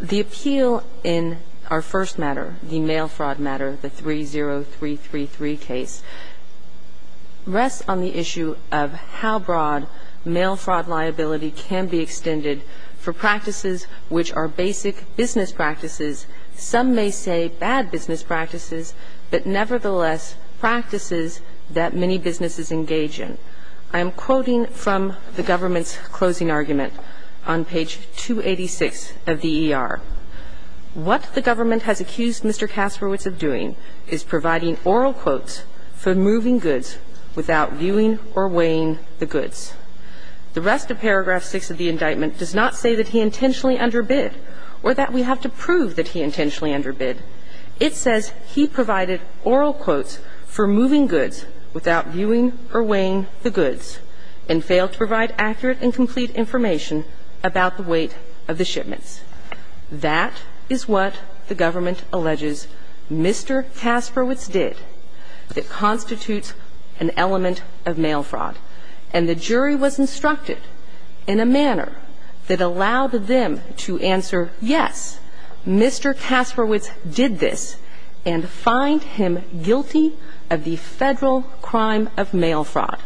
The appeal in our first matter, the mail fraud matter, the 30333 case, rests on the issue of how broad mail fraud liability can be extended for practices which are basic business practices, some may say bad business practices, but nevertheless practices that many businesses engage in. I am quoting from the government's closing argument on page 286 of the E.R. What the government has accused Mr. Kasprowicz of doing is providing oral quotes for moving goods without viewing or weighing the goods. The rest of paragraph 6 of the indictment does not say that he intentionally underbid or that we have to prove that he intentionally underbid. It says he provided oral quotes for moving goods without viewing or weighing the goods and failed to provide accurate and complete information about the weight of the shipments. That is what the government alleges Mr. Kasprowicz did that constitutes an element of mail fraud, and the jury was instructed in a manner that allowed them to answer, yes, Mr. Kasprowicz did this, and find him guilty of the federal crime of mail fraud.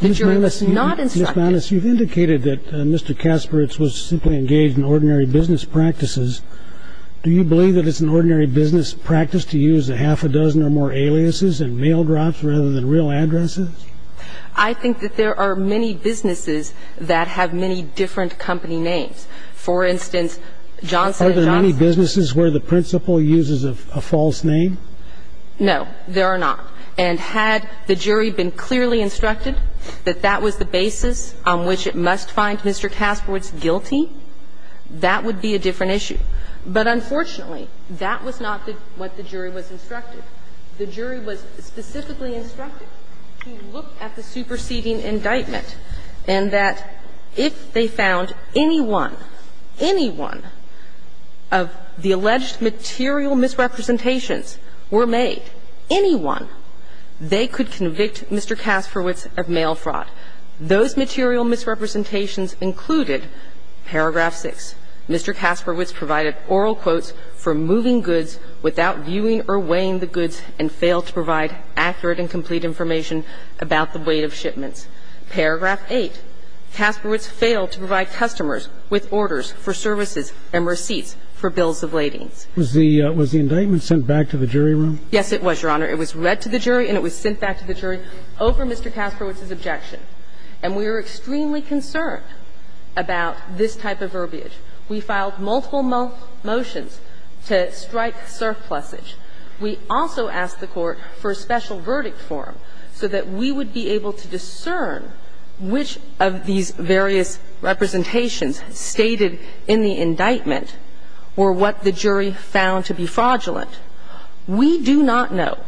The jury was not instructed. Mr. Banas, you've indicated that Mr. Kasprowicz was simply engaged in ordinary business practices. Do you believe that it's an ordinary business practice to use a half a dozen or more aliases and mail drops rather than real addresses? I think that there are many businesses that have many different company names. For instance, Johnson and Johnson. Are there many businesses where the principal uses a false name? No, there are not. And had the jury been clearly instructed that that was the basis on which it must find Mr. Kasprowicz guilty, that would be a different issue. But unfortunately, that was not what the jury was instructed. The jury was specifically instructed to look at the superseding indictment and that if they found anyone, anyone of the alleged material misrepresentations were made, anyone, they could convict Mr. Kasprowicz of mail fraud. Those material misrepresentations included paragraph 6, Mr. Kasprowicz provided oral quotes for moving goods without viewing or weighing the goods and failed to provide customers with orders for services and receipts for bills of ladings. Was the indictment sent back to the jury room? Yes, it was, Your Honor. It was read to the jury and it was sent back to the jury over Mr. Kasprowicz's objection. And we were extremely concerned about this type of verbiage. We filed multiple motions to strike surplusage. We also asked the Court for a special verdict form so that we would be able to discern which of these various representations stated in the indictment were what the jury found to be fraudulent. We do not know,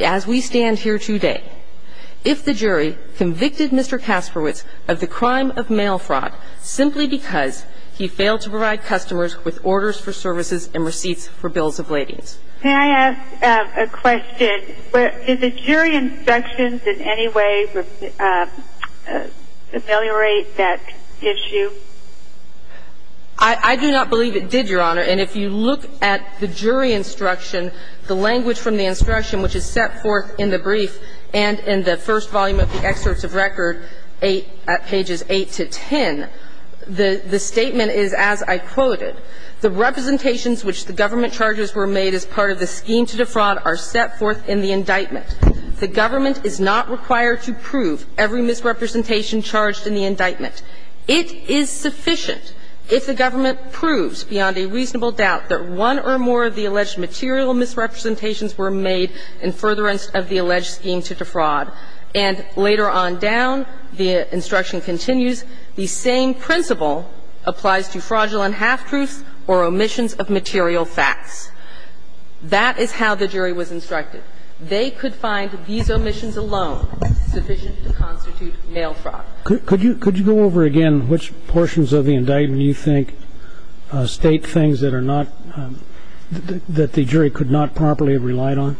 as we stand here today, if the jury convicted Mr. Kasprowicz of the crime of mail fraud simply because he failed to provide customers with orders for services and receipts for bills of ladings. Can I ask a question? Did the jury instructions in any way ameliorate that issue? I do not believe it did, Your Honor. And if you look at the jury instruction, the language from the instruction, which is set forth in the brief and in the first volume of the excerpts of record at pages 8 to 10, the statement is as I quoted, The representations which the government charges were made as part of the scheme to defraud are set forth in the indictment. The government is not required to prove every misrepresentation charged in the indictment. It is sufficient if the government proves beyond a reasonable doubt that one or more of the alleged material misrepresentations were made in furtherance of the alleged scheme to defraud. And later on down, the instruction continues, The same principle applies to fraudulent half-truths or omissions of material facts. That is how the jury was instructed. They could find these omissions alone sufficient to constitute mail fraud. Could you go over again which portions of the indictment you think state things that are not that the jury could not properly have relied on?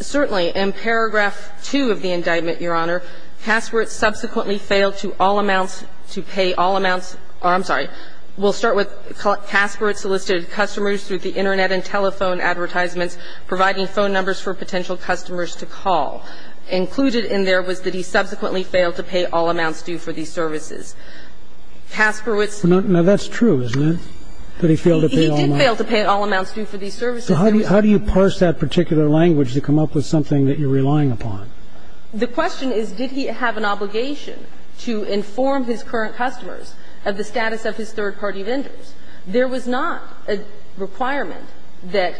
Certainly. In paragraph 2 of the indictment, Your Honor, customers to call. And it says here, Casperowitz subsequently failed to all amounts to pay all amounts or I'm sorry. We'll start with Casperowitz solicited customers through the Internet and telephone advertisements, providing phone numbers for potential customers to call. And the reason that the law included in there was that he subsequently failed to pay all amounts due for these services. Casperowitz ---- Now, that's true, isn't it? That he failed to pay all amounts. He did fail to pay all amounts due for these services. So how do you parse that particular language to come up with something that you're relying upon? The question is, did he have an obligation to inform his current customers of the status of his third-party vendors? There was not a requirement that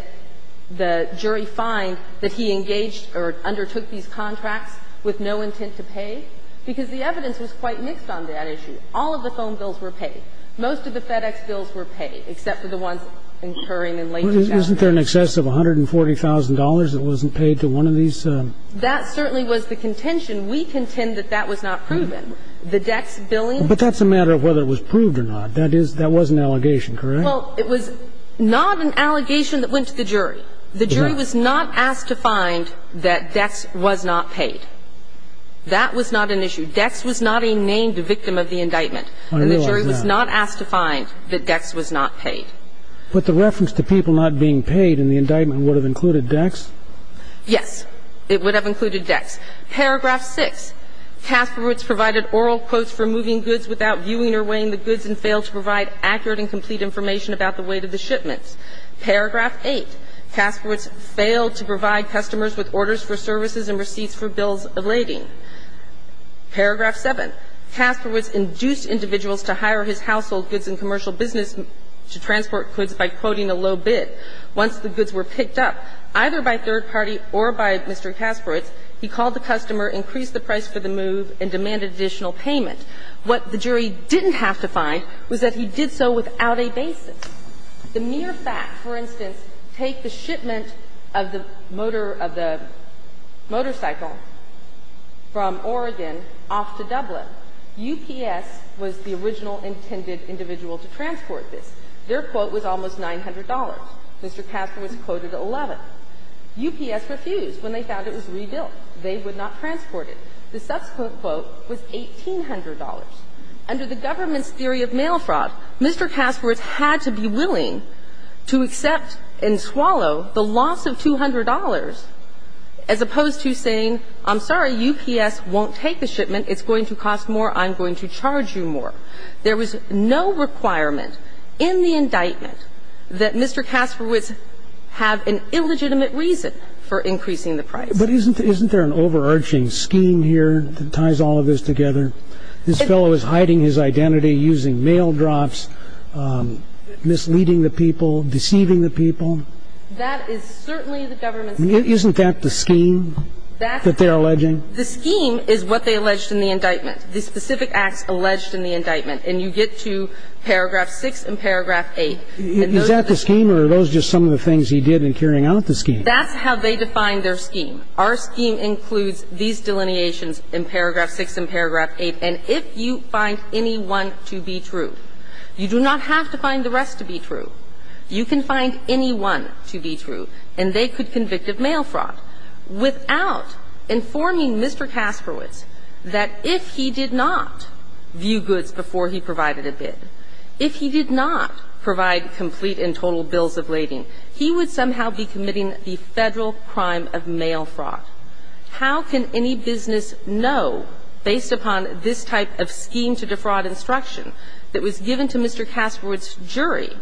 the jury find that he engaged or undertook these contracts with no intent to pay, because the evidence was quite mixed on that issue. All of the phone bills were paid. Most of the FedEx bills were paid, except for the ones incurring in late January. Isn't there an excess of $140,000 that wasn't paid to one of these? That certainly was the contention. We contend that that was not proven. The Dex billing ---- But that's a matter of whether it was proved or not. That was an allegation, correct? Well, it was not an allegation that went to the jury. The jury was not asked to find that Dex was not paid. That was not an issue. Dex was not a named victim of the indictment. I realize that. And the jury was not asked to find that Dex was not paid. But the reference to people not being paid in the indictment would have included Dex? Yes. It would have included Dex. Paragraph 6, Kasperowitz provided oral quotes for moving goods without viewing or weighing the goods and failed to provide accurate and complete information about the weight of the shipments. Paragraph 8, Kasperowitz failed to provide customers with orders for services and receipts for bills elating. Paragraph 7, Kasperowitz induced individuals to hire his household goods and commercial business to transport goods by quoting a low bid. Once the goods were picked up, either by third party or by Mr. Kasperowitz, he called the customer, increased the price for the move, and demanded additional payment. What the jury didn't have to find was that he did so without a basis. The mere fact, for instance, take the shipment of the motor of the motorcycle from Oregon off to Dublin. UPS was the original intended individual to transport this. Their quote was almost $900. Mr. Kasperowitz quoted $11. UPS refused when they found it was rebuilt. They would not transport it. The subsequent quote was $1,800. Under the government's theory of mail fraud, Mr. Kasperowitz had to be willing to accept and swallow the loss of $200 as opposed to saying, I'm sorry, UPS won't take the shipment. It's going to cost more. I'm going to charge you more. And so the government's theory of mail fraud was that UPS would not take the shipment of the motorcycle from Oregon. There was no requirement in the indictment that Mr. Kasperowitz have an illegitimate reason for increasing the price. But isn't there an overarching scheme here that ties all of this together? This fellow is hiding his identity using mail drops, misleading the people, deceiving the people. That is certainly the government's scheme. Isn't that the scheme that they're alleging? The scheme is what they alleged in the indictment, the specific acts alleged in the indictment. And you get to paragraph 6 and paragraph 8. Is that the scheme or are those just some of the things he did in carrying out the scheme? That's how they define their scheme. Our scheme includes these delineations in paragraph 6 and paragraph 8. And if you find any one to be true, you do not have to find the rest to be true. You can find any one to be true, and they could convict of mail fraud without informing Mr. Kasperowitz that if he did not view goods before he provided a bid, if he did not provide complete and total bills of lading, he would somehow be committing the Federal crime of mail fraud. How can any business know, based upon this type of scheme to defraud instruction that was given to Mr. Kasperowitz's jury,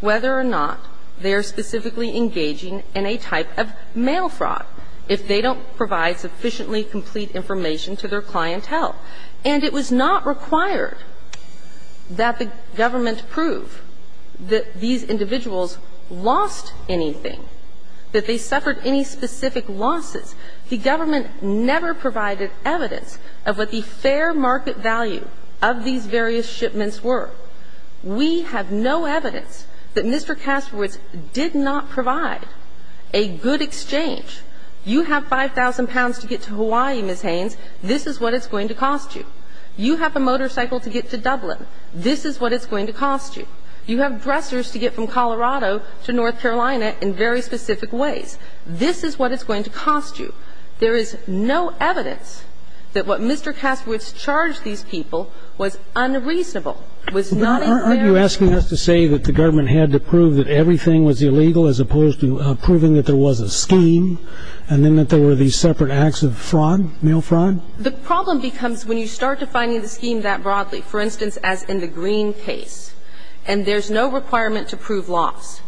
whether or not they are specifically engaging in a type of mail fraud if they don't provide sufficiently complete information to their clientele? And it was not required that the government prove that these individuals lost anything, that they suffered any specific losses. The government never provided evidence of what the fair market value of these various shipments were. We have no evidence that Mr. Kasperowitz did not provide a good exchange. You have 5,000 pounds to get to Hawaii, Ms. Haynes. This is what it's going to cost you. You have a motorcycle to get to Dublin. This is what it's going to cost you. You have dressers to get from Colorado to North Carolina in very specific ways. This is what it's going to cost you. There is no evidence that what Mr. Kasperowitz charged these people was unreasonable, was not fair. Aren't you asking us to say that the government had to prove that everything was illegal as opposed to proving that there was a scheme and then that there were these separate acts of fraud, mail fraud? The problem becomes when you start defining the scheme that broadly, for instance, as in the Green case, and there's no requirement to prove loss.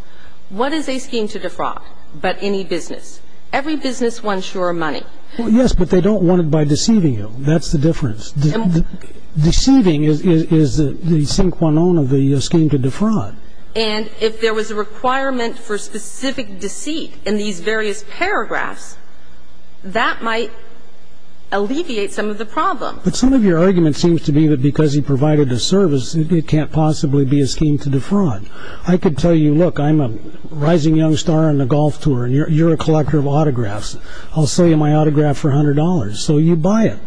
What is a scheme to defraud but any business? Every business wants your money. Well, yes, but they don't want it by deceiving you. That's the difference. Deceiving is the sin cuanon of the scheme to defraud. And if there was a requirement for specific deceit in these various paragraphs, that might alleviate some of the problem. But some of your argument seems to be that because he provided the service, it can't possibly be a scheme to defraud. I could tell you, look, I'm a rising young star on the golf tour, and you're a collector of autographs. I'll sell you my autograph for $100. So you buy it.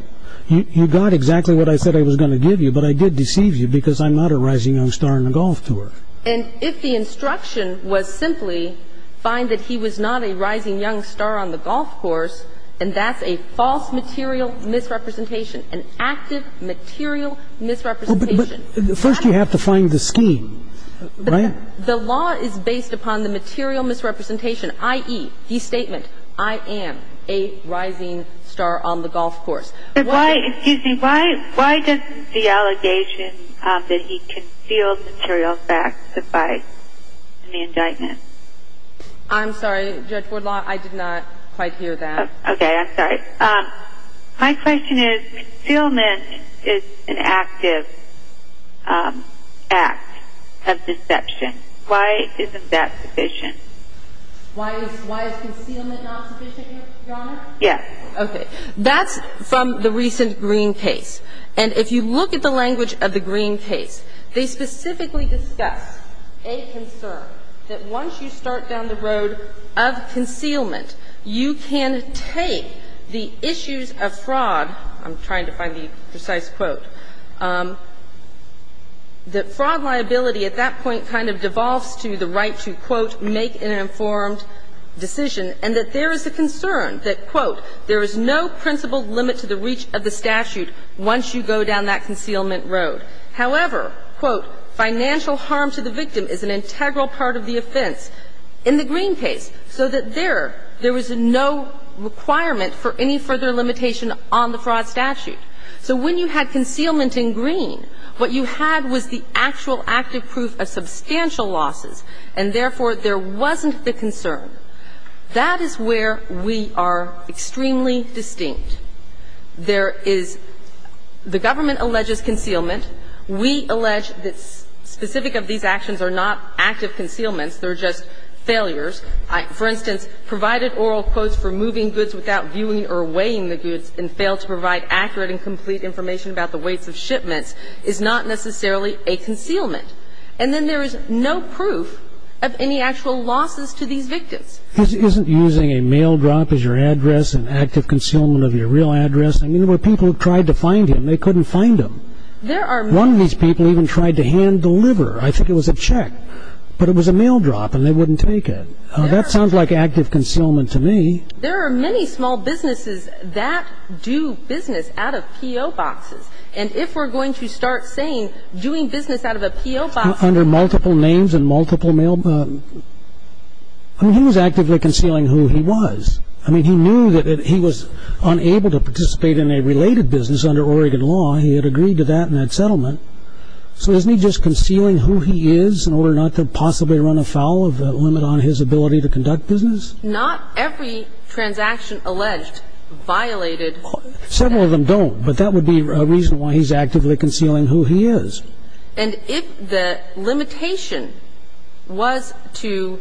You got exactly what I said I was going to give you, but I did deceive you because I'm not a rising young star on the golf tour. And if the instruction was simply find that he was not a rising young star on the golf course, and that's a false material misrepresentation, an active material misrepresentation. But first you have to find the scheme, right? The law is based upon the material misrepresentation, i.e., the statement, I am a rising star on the golf course. Why does the allegation that he concealed material facts suffice in the indictment? I'm sorry, Judge Woodlaw, I did not quite hear that. Okay. I'm sorry. My question is concealment is an active act of deception. Why isn't that sufficient? Why is concealment not sufficient, Your Honor? Yes. Okay. That's from the recent Green case. And if you look at the language of the Green case, they specifically discuss a concern that once you start down the road of concealment, you can take the issues of fraud --" I'm trying to find the precise quote --" that fraud liability at that point kind of devolves to the right to, quote, make an informed decision, and that there is a concern that, quote, there is no principled limit to the reach of the statute once you go down that concealment road. However, quote, financial harm to the victim is an integral part of the offense in the Green case, so that there, there is no requirement for any further limitation on the fraud statute. So when you had concealment in Green, what you had was the actual active proof of substantial losses, and therefore, there wasn't the concern. That is where we are extremely distinct. There is the government alleges concealment. We allege that specific of these actions are not active concealments. They're just failures. For instance, provided oral quotes for moving goods without viewing or weighing the goods and failed to provide accurate and complete information about the weights of shipments is not necessarily a concealment. And then there is no proof of any actual losses to these victims. Isn't using a mail drop as your address an active concealment of your real address? I mean, there were people who tried to find him. They couldn't find him. One of these people even tried to hand deliver. I think it was a check, but it was a mail drop, and they wouldn't take it. That sounds like active concealment to me. There are many small businesses that do business out of P.O. boxes. And if we're going to start saying doing business out of a P.O. box. Under multiple names and multiple mail. I mean, he was actively concealing who he was. I mean, he knew that he was unable to participate in a related business under Oregon law. He had agreed to that in that settlement. So isn't he just concealing who he is in order not to possibly run afoul of the limit on his ability to conduct business? Not every transaction alleged violated. Several of them don't. But that would be a reason why he's actively concealing who he is. And if the limitation was to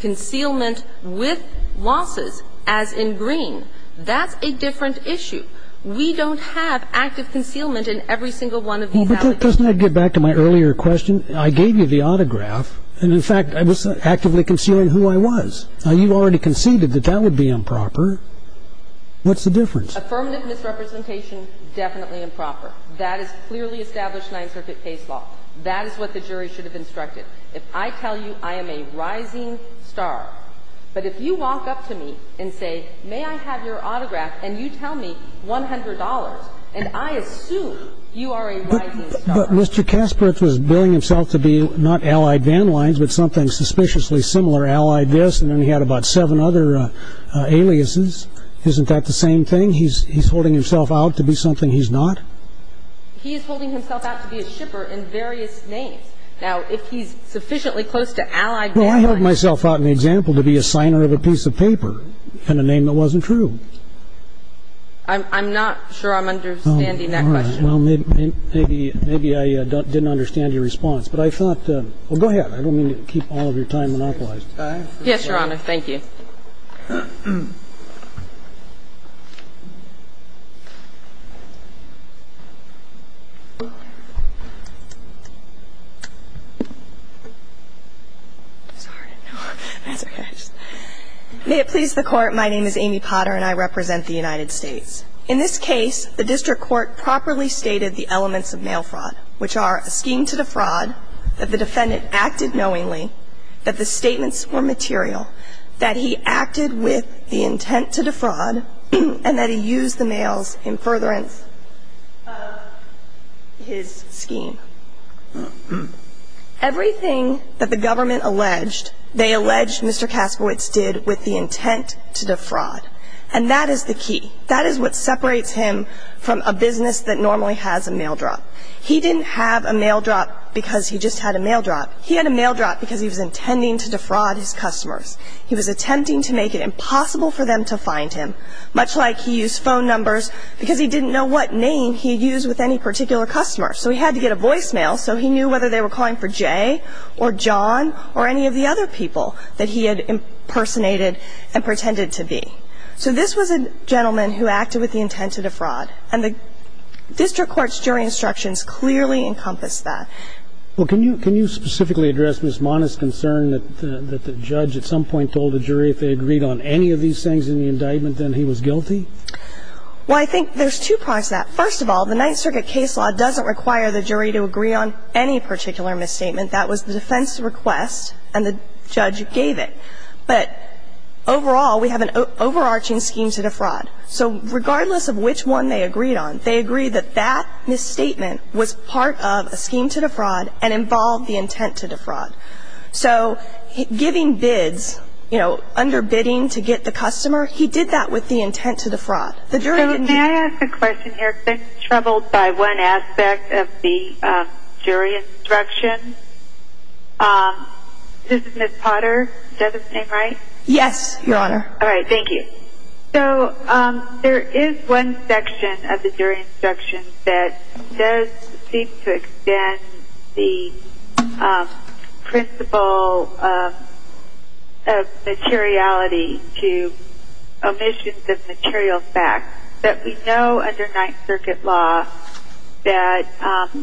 concealment with losses, as in green, that's a different issue. We don't have active concealment in every single one of these applications. Doesn't that get back to my earlier question? I gave you the autograph. And in fact, I was actively concealing who I was. What's the difference? Affirmative misrepresentation, definitely improper. That is clearly established Ninth Circuit case law. That is what the jury should have instructed. If I tell you I am a rising star, but if you walk up to me and say, may I have your autograph, and you tell me $100, and I assume you are a rising star. But Mr. Kasparov was billing himself to be not allied van lines, but something suspiciously similar, allied this, and then he had about seven other aliases. Isn't that the same thing? He's holding himself out to be something he's not? He is holding himself out to be a shipper in various names. Now, if he's sufficiently close to allied van lines. Well, I held myself out in the example to be a signer of a piece of paper and a name that wasn't true. I'm not sure I'm understanding that question. All right. Well, maybe I didn't understand your response. But I thought go ahead. I don't mean to keep all of your time monopolized. Yes, Your Honor. Thank you. May it please the Court, my name is Amy Potter, and I represent the United States. In this case, the district court properly stated the elements of mail fraud, which are a scheme to defraud, that the defendant acted knowingly, that the statements were material, that he acted with the intent to defraud, and that he used the mails in furtherance of his scheme. Everything that the government alleged, they alleged Mr. Kaskowitz did with the intent to defraud. And that is the key. That is what separates him from a business that normally has a mail drop. He didn't have a mail drop because he just had a mail drop. He had a mail drop because he was intending to defraud his customers. He was attempting to make it impossible for them to find him, much like he used phone numbers because he didn't know what name he used with any particular customer. So he had to get a voicemail so he knew whether they were calling for Jay or John or any of the other people that he had impersonated and pretended to be. So this was a gentleman who acted with the intent to defraud. And the district court's jury instructions clearly encompass that. Well, can you specifically address Ms. Mona's concern that the judge at some point told the jury if they agreed on any of these things in the indictment, then he was guilty? Well, I think there's two parts to that. First of all, the Ninth Circuit case law doesn't require the jury to agree on any particular misstatement. That was the defense's request, and the judge gave it. But overall, we have an overarching scheme to defraud. So regardless of which one they agreed on, they agreed that that misstatement was part of a scheme to defraud and involved the intent to defraud. So giving bids, you know, under bidding to get the customer, he did that with the intent to defraud. So may I ask a question here? I've been troubled by one aspect of the jury instruction. This is Ms. Potter. Is that his name right? Yes, Your Honor. All right. Thank you. So there is one section of the jury instruction that does seem to extend the principle of materiality to omissions of material facts, that we know under Ninth Circuit law that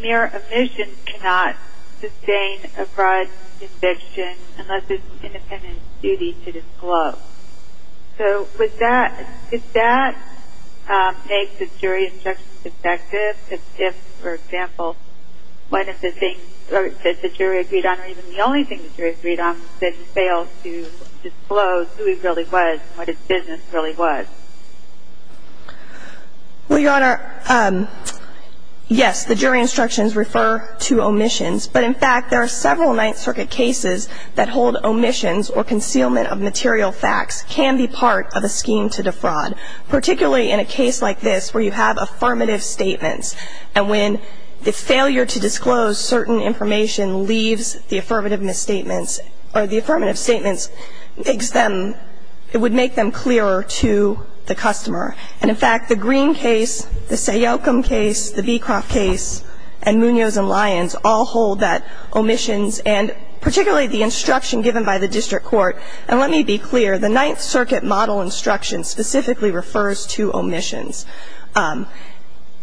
mere omissions cannot sustain a fraud conviction unless it's an independent duty to disclose. So does that make the jury instruction defective? Because if, for example, one of the things that the jury agreed on, or even the only thing the jury agreed on, was that he failed to disclose who he really was and what his business really was. Well, Your Honor, yes, the jury instructions refer to omissions. But in fact, there are several Ninth Circuit cases that hold omissions or concealment of material facts can be part of a scheme to defraud, particularly in a case like this where you have affirmative statements. And when the failure to disclose certain information leaves the affirmative statements, it would make them clearer to the customer. And in fact, the Green case, the Sayocum case, the Beecroft case, and Munoz and Lyons all hold that omissions, and particularly the instruction given by the district court. And let me be clear, the Ninth Circuit model instruction specifically refers to omissions.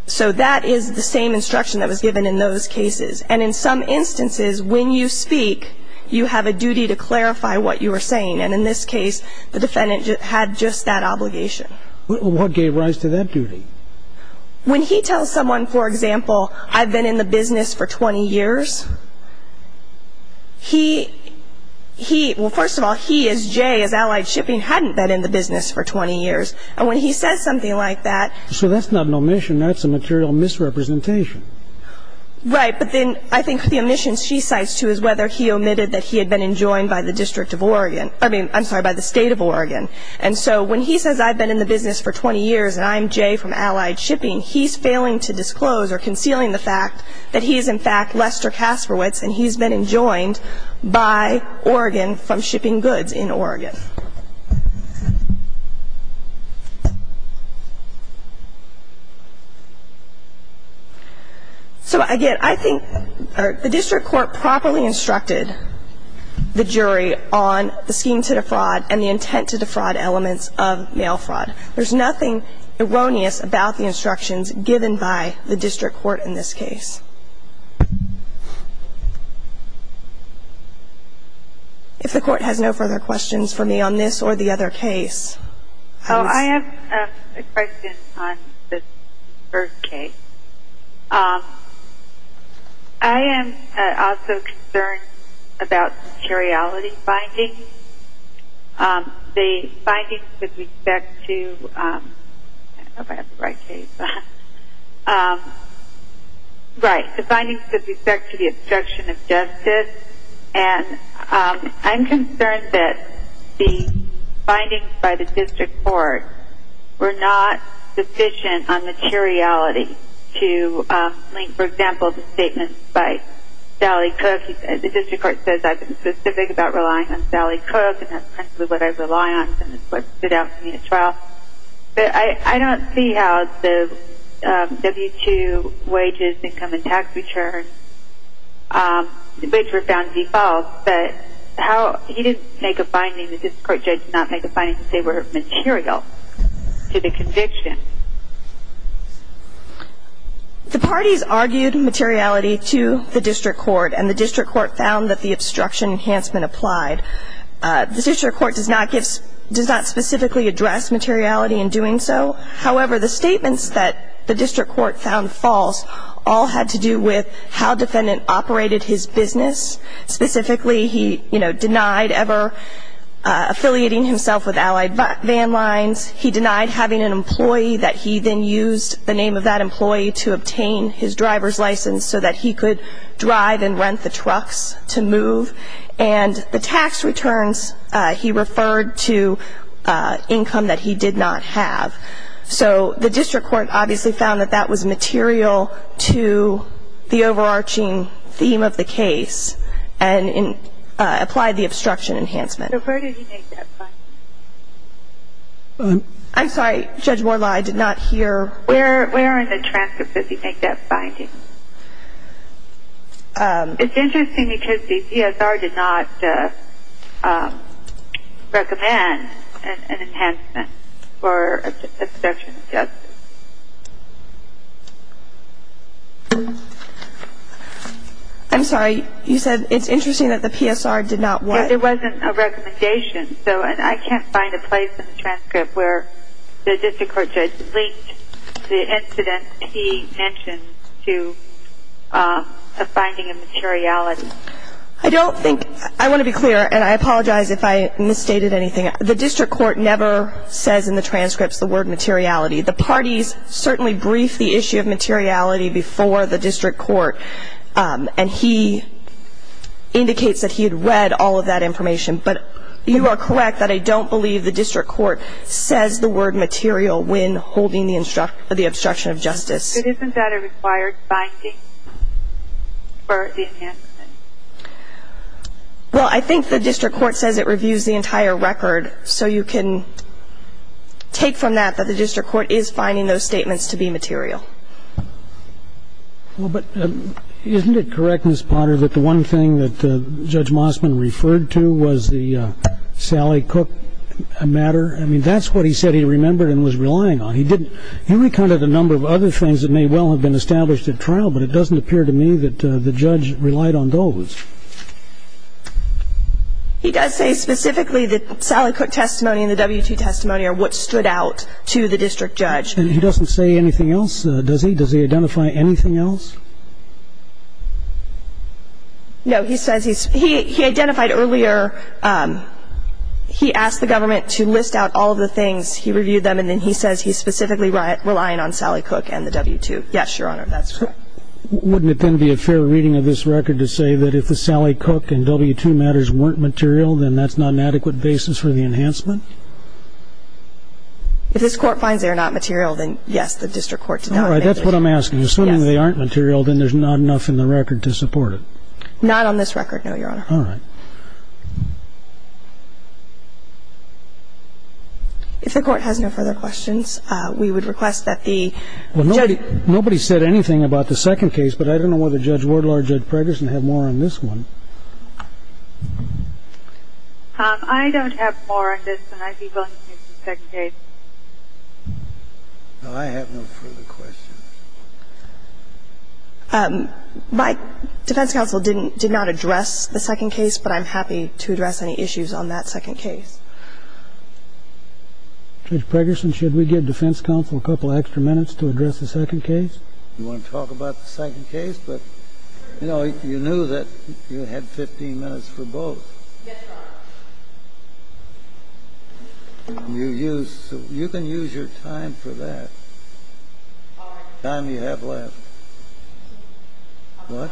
So that is the same instruction that was given in those cases. And in some instances, when you speak, you have a duty to clarify what you are saying. And in this case, the defendant had just that obligation. Well, what gave rise to that duty? When he tells someone, for example, I've been in the business for 20 years, he, he, well, first of all, he as Jay, as Allied Shipping, hadn't been in the business for 20 years. And when he says something like that. So that's not an omission. That's a material misrepresentation. Right. But then I think the omission she cites too is whether he omitted that he had been enjoined by the District of Oregon. I mean, I'm sorry, by the State of Oregon. And so when he says I've been in the business for 20 years and I'm Jay from Allied Shipping, he's failing to disclose or concealing the fact that he is, in fact, Lester Kasparowitz and he's been enjoined by Oregon from Shipping Goods in Oregon. So again, I think the district court properly instructed the jury on the scheme to defraud and the intent to defraud elements of mail fraud. There's nothing erroneous about the instructions given by the district court in this case. If the court has no further questions for me on this or the other case. I have a question on the first case. I am also concerned about materiality findings. The findings with respect to the obstruction of justice. And I'm concerned that the findings by the district court were not sufficient on materiality to link, for example, the statement by Sally Cook. The district court says I've been specific about relying on Sally Cook and that's principally what I rely on. And it stood out to me as well. But I don't see how the W-2 wages, income and tax returns, which were found to be false, but how he didn't make a finding, the district court judge did not make a finding to say were material to the conviction. The parties argued materiality to the district court and the district court found that the obstruction enhancement applied. The district court does not specifically address materiality in doing so. However, the statements that the district court found false all had to do with how defendant operated his business. Specifically, he denied ever affiliating himself with allied van lines. He denied having an employee that he then used the name of that employee to obtain his driver's license so that he could drive and rent the trucks to move. And the tax returns he referred to income that he did not have. So the district court obviously found that that was material to the overarching theme of the case and applied the obstruction enhancement. So where did he make that finding? I'm sorry, Judge Moorlach, I did not hear. Where in the transcript does he make that finding? It's interesting because the PSR did not recommend an enhancement for obstruction of justice. I'm sorry, you said it's interesting that the PSR did not what? There wasn't a recommendation. So I can't find a place in the transcript where the district court linked the incident he mentioned to a finding of materiality. I don't think – I want to be clear, and I apologize if I misstated anything. The district court never says in the transcripts the word materiality. The parties certainly briefed the issue of materiality before the district court, and he indicates that he had read all of that information. But you are correct that I don't believe the district court says the word material when holding the obstruction of justice. But isn't that a required finding for the enhancement? Well, I think the district court says it reviews the entire record, so you can take from that that the district court is finding those statements to be material. Well, but isn't it correct, Ms. Potter, that the one thing that Judge Mossman referred to was the Sally Cook matter? I mean, that's what he said he remembered and was relying on. He didn't – he recounted a number of other things that may well have been established at trial, but it doesn't appear to me that the judge relied on those. He does say specifically that Sally Cook testimony and the W2 testimony are what stood out to the district judge. And he doesn't say anything else, does he? Does he identify anything else? No, he says he's – he identified earlier – he asked the government to list out all of the things. He reviewed them, and then he says he's specifically relying on Sally Cook and the W2. Yes, Your Honor, that's correct. Wouldn't it then be a fair reading of this record to say that if the Sally Cook and W2 matters weren't material, then that's not an adequate basis for the enhancement? If this Court finds they are not material, then, yes, the district court does not. All right. That's what I'm asking. Assuming they aren't material, then there's not enough in the record to support it. Not on this record, no, Your Honor. All right. If the Court has no further questions, we would request that the judge – Well, nobody said anything about the second case, but I don't know whether Judge Wardlaw or Judge Preggerson have more on this one. I don't have more on this, and I'd be willing to use the second case. No, I have no further questions. My defense counsel did not address the second case, but I'm happy to address any issues on that second case. Judge Preggerson, should we give defense counsel a couple of extra minutes to address the second case? You want to talk about the second case? But, you know, you knew that you had 15 minutes for both. Yes, Your Honor. You can use your time for that, the time you have left. What?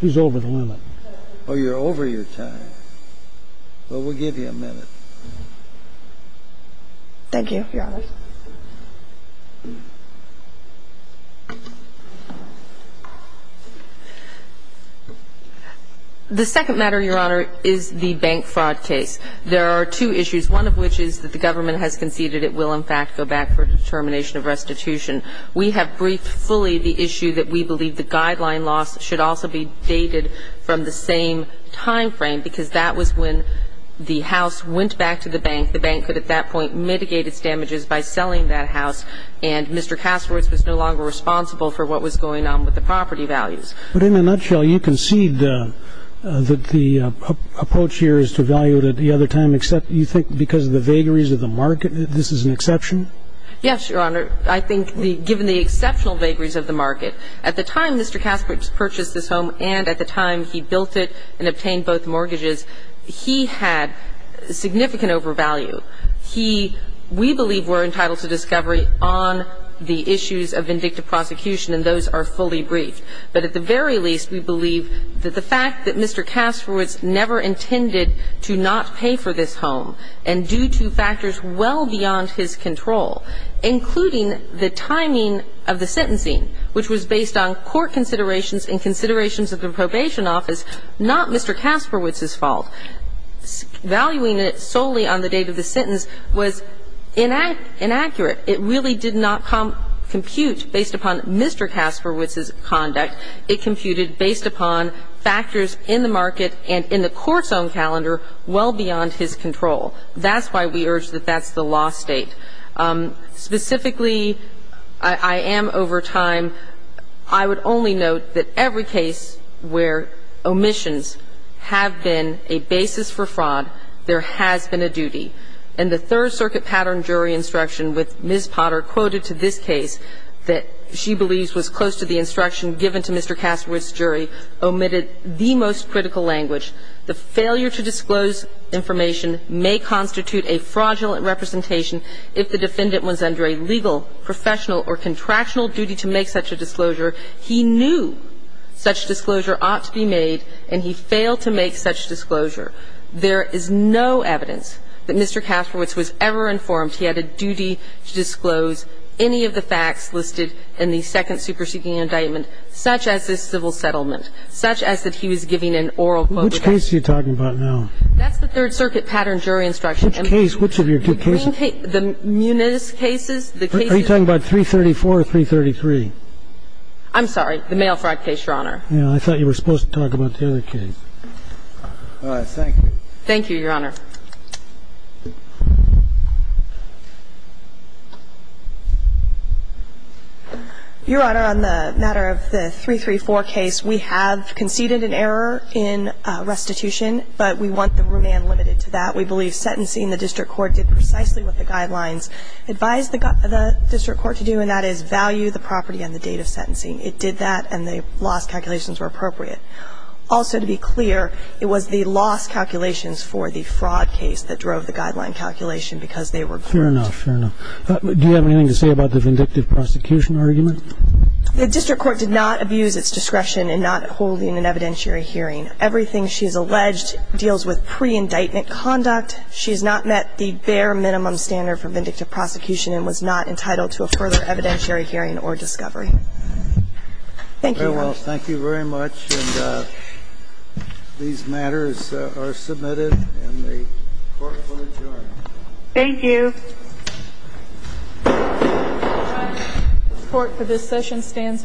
She's over the limit. Oh, you're over your time. Well, we'll give you a minute. Thank you, Your Honor. The second matter, Your Honor, is the bank fraud case. There are two issues, one of which is that the government has conceded it will, in fact, go back for determination of restitution. We have briefed fully the issue that we believe the guideline loss should also be dated from the same time frame, because that was when the house went back to the bank. The bank could, at that point, mitigate its damages by selling that house, and Mr. Kasterowitz was no longer responsible for what was going on with the property values. But in a nutshell, you concede that the approach here is to value it at the other time, except you think because of the vagaries of the market that this is an exception? Yes, Your Honor. I think given the exceptional vagaries of the market, at the time Mr. Kasterowitz purchased this home and at the time he built it and obtained both mortgages, he had significant overvalue. He, we believe, were entitled to discovery on the issues of vindictive prosecution, and those are fully briefed. But at the very least, we believe that the fact that Mr. Kasterowitz never intended to not pay for this home, and due to factors well beyond his control, including the timing of the sentencing, which was based on court considerations and considerations of the probation office, not Mr. Kasterowitz's fault, valuing it solely on the date of the sentence was inaccurate. It really did not compute based upon Mr. Kasterowitz's conduct. It computed based upon factors in the market and in the court's own calendar well beyond his control. That's why we urge that that's the law state. Specifically, I am over time. I would only note that every case where omissions have been a basis for fraud, there has been a duty. And the Third Circuit pattern jury instruction with Ms. Potter quoted to this case that she believes was close to the instruction given to Mr. Kasterowitz's jury omitted the most critical language. The failure to disclose information may constitute a fraudulent representation if the defendant was under a legal, professional, or contractional duty to make such a disclosure. He knew such disclosure ought to be made, and he failed to make such disclosure. There is no evidence that Mr. Kasterowitz was ever informed he had a duty to disclose any of the facts listed in the second superseding indictment, such as this civil settlement, such as that he was giving an oral quote. Which case are you talking about now? That's the Third Circuit pattern jury instruction. Which case? Which of your two cases? The Muniz cases. Are you talking about 334 or 333? I'm sorry. The mail fraud case, Your Honor. I thought you were supposed to talk about the other case. Thank you. Thank you, Your Honor. Your Honor, on the matter of the 334 case, we have conceded an error in restitution, but we want the remand limited to that. We believe sentencing, the district court did precisely what the guidelines advised the district court to do, and that is value the property and the date of sentencing. It did that, and the loss calculations were appropriate. Also, to be clear, it was the loss calculations for the fraud case. It was the fraud case that drove the guideline calculation because they were correct. Fair enough, fair enough. Do you have anything to say about the vindictive prosecution argument? The district court did not abuse its discretion in not holding an evidentiary hearing. Everything she has alleged deals with pre-indictment conduct. She has not met the bare minimum standard for vindictive prosecution and was not entitled to a further evidentiary hearing or discovery. Thank you, Your Honor. Very well. Thank you very much. And these matters are submitted, and the court will adjourn. Thank you. The court for this session stands adjourned.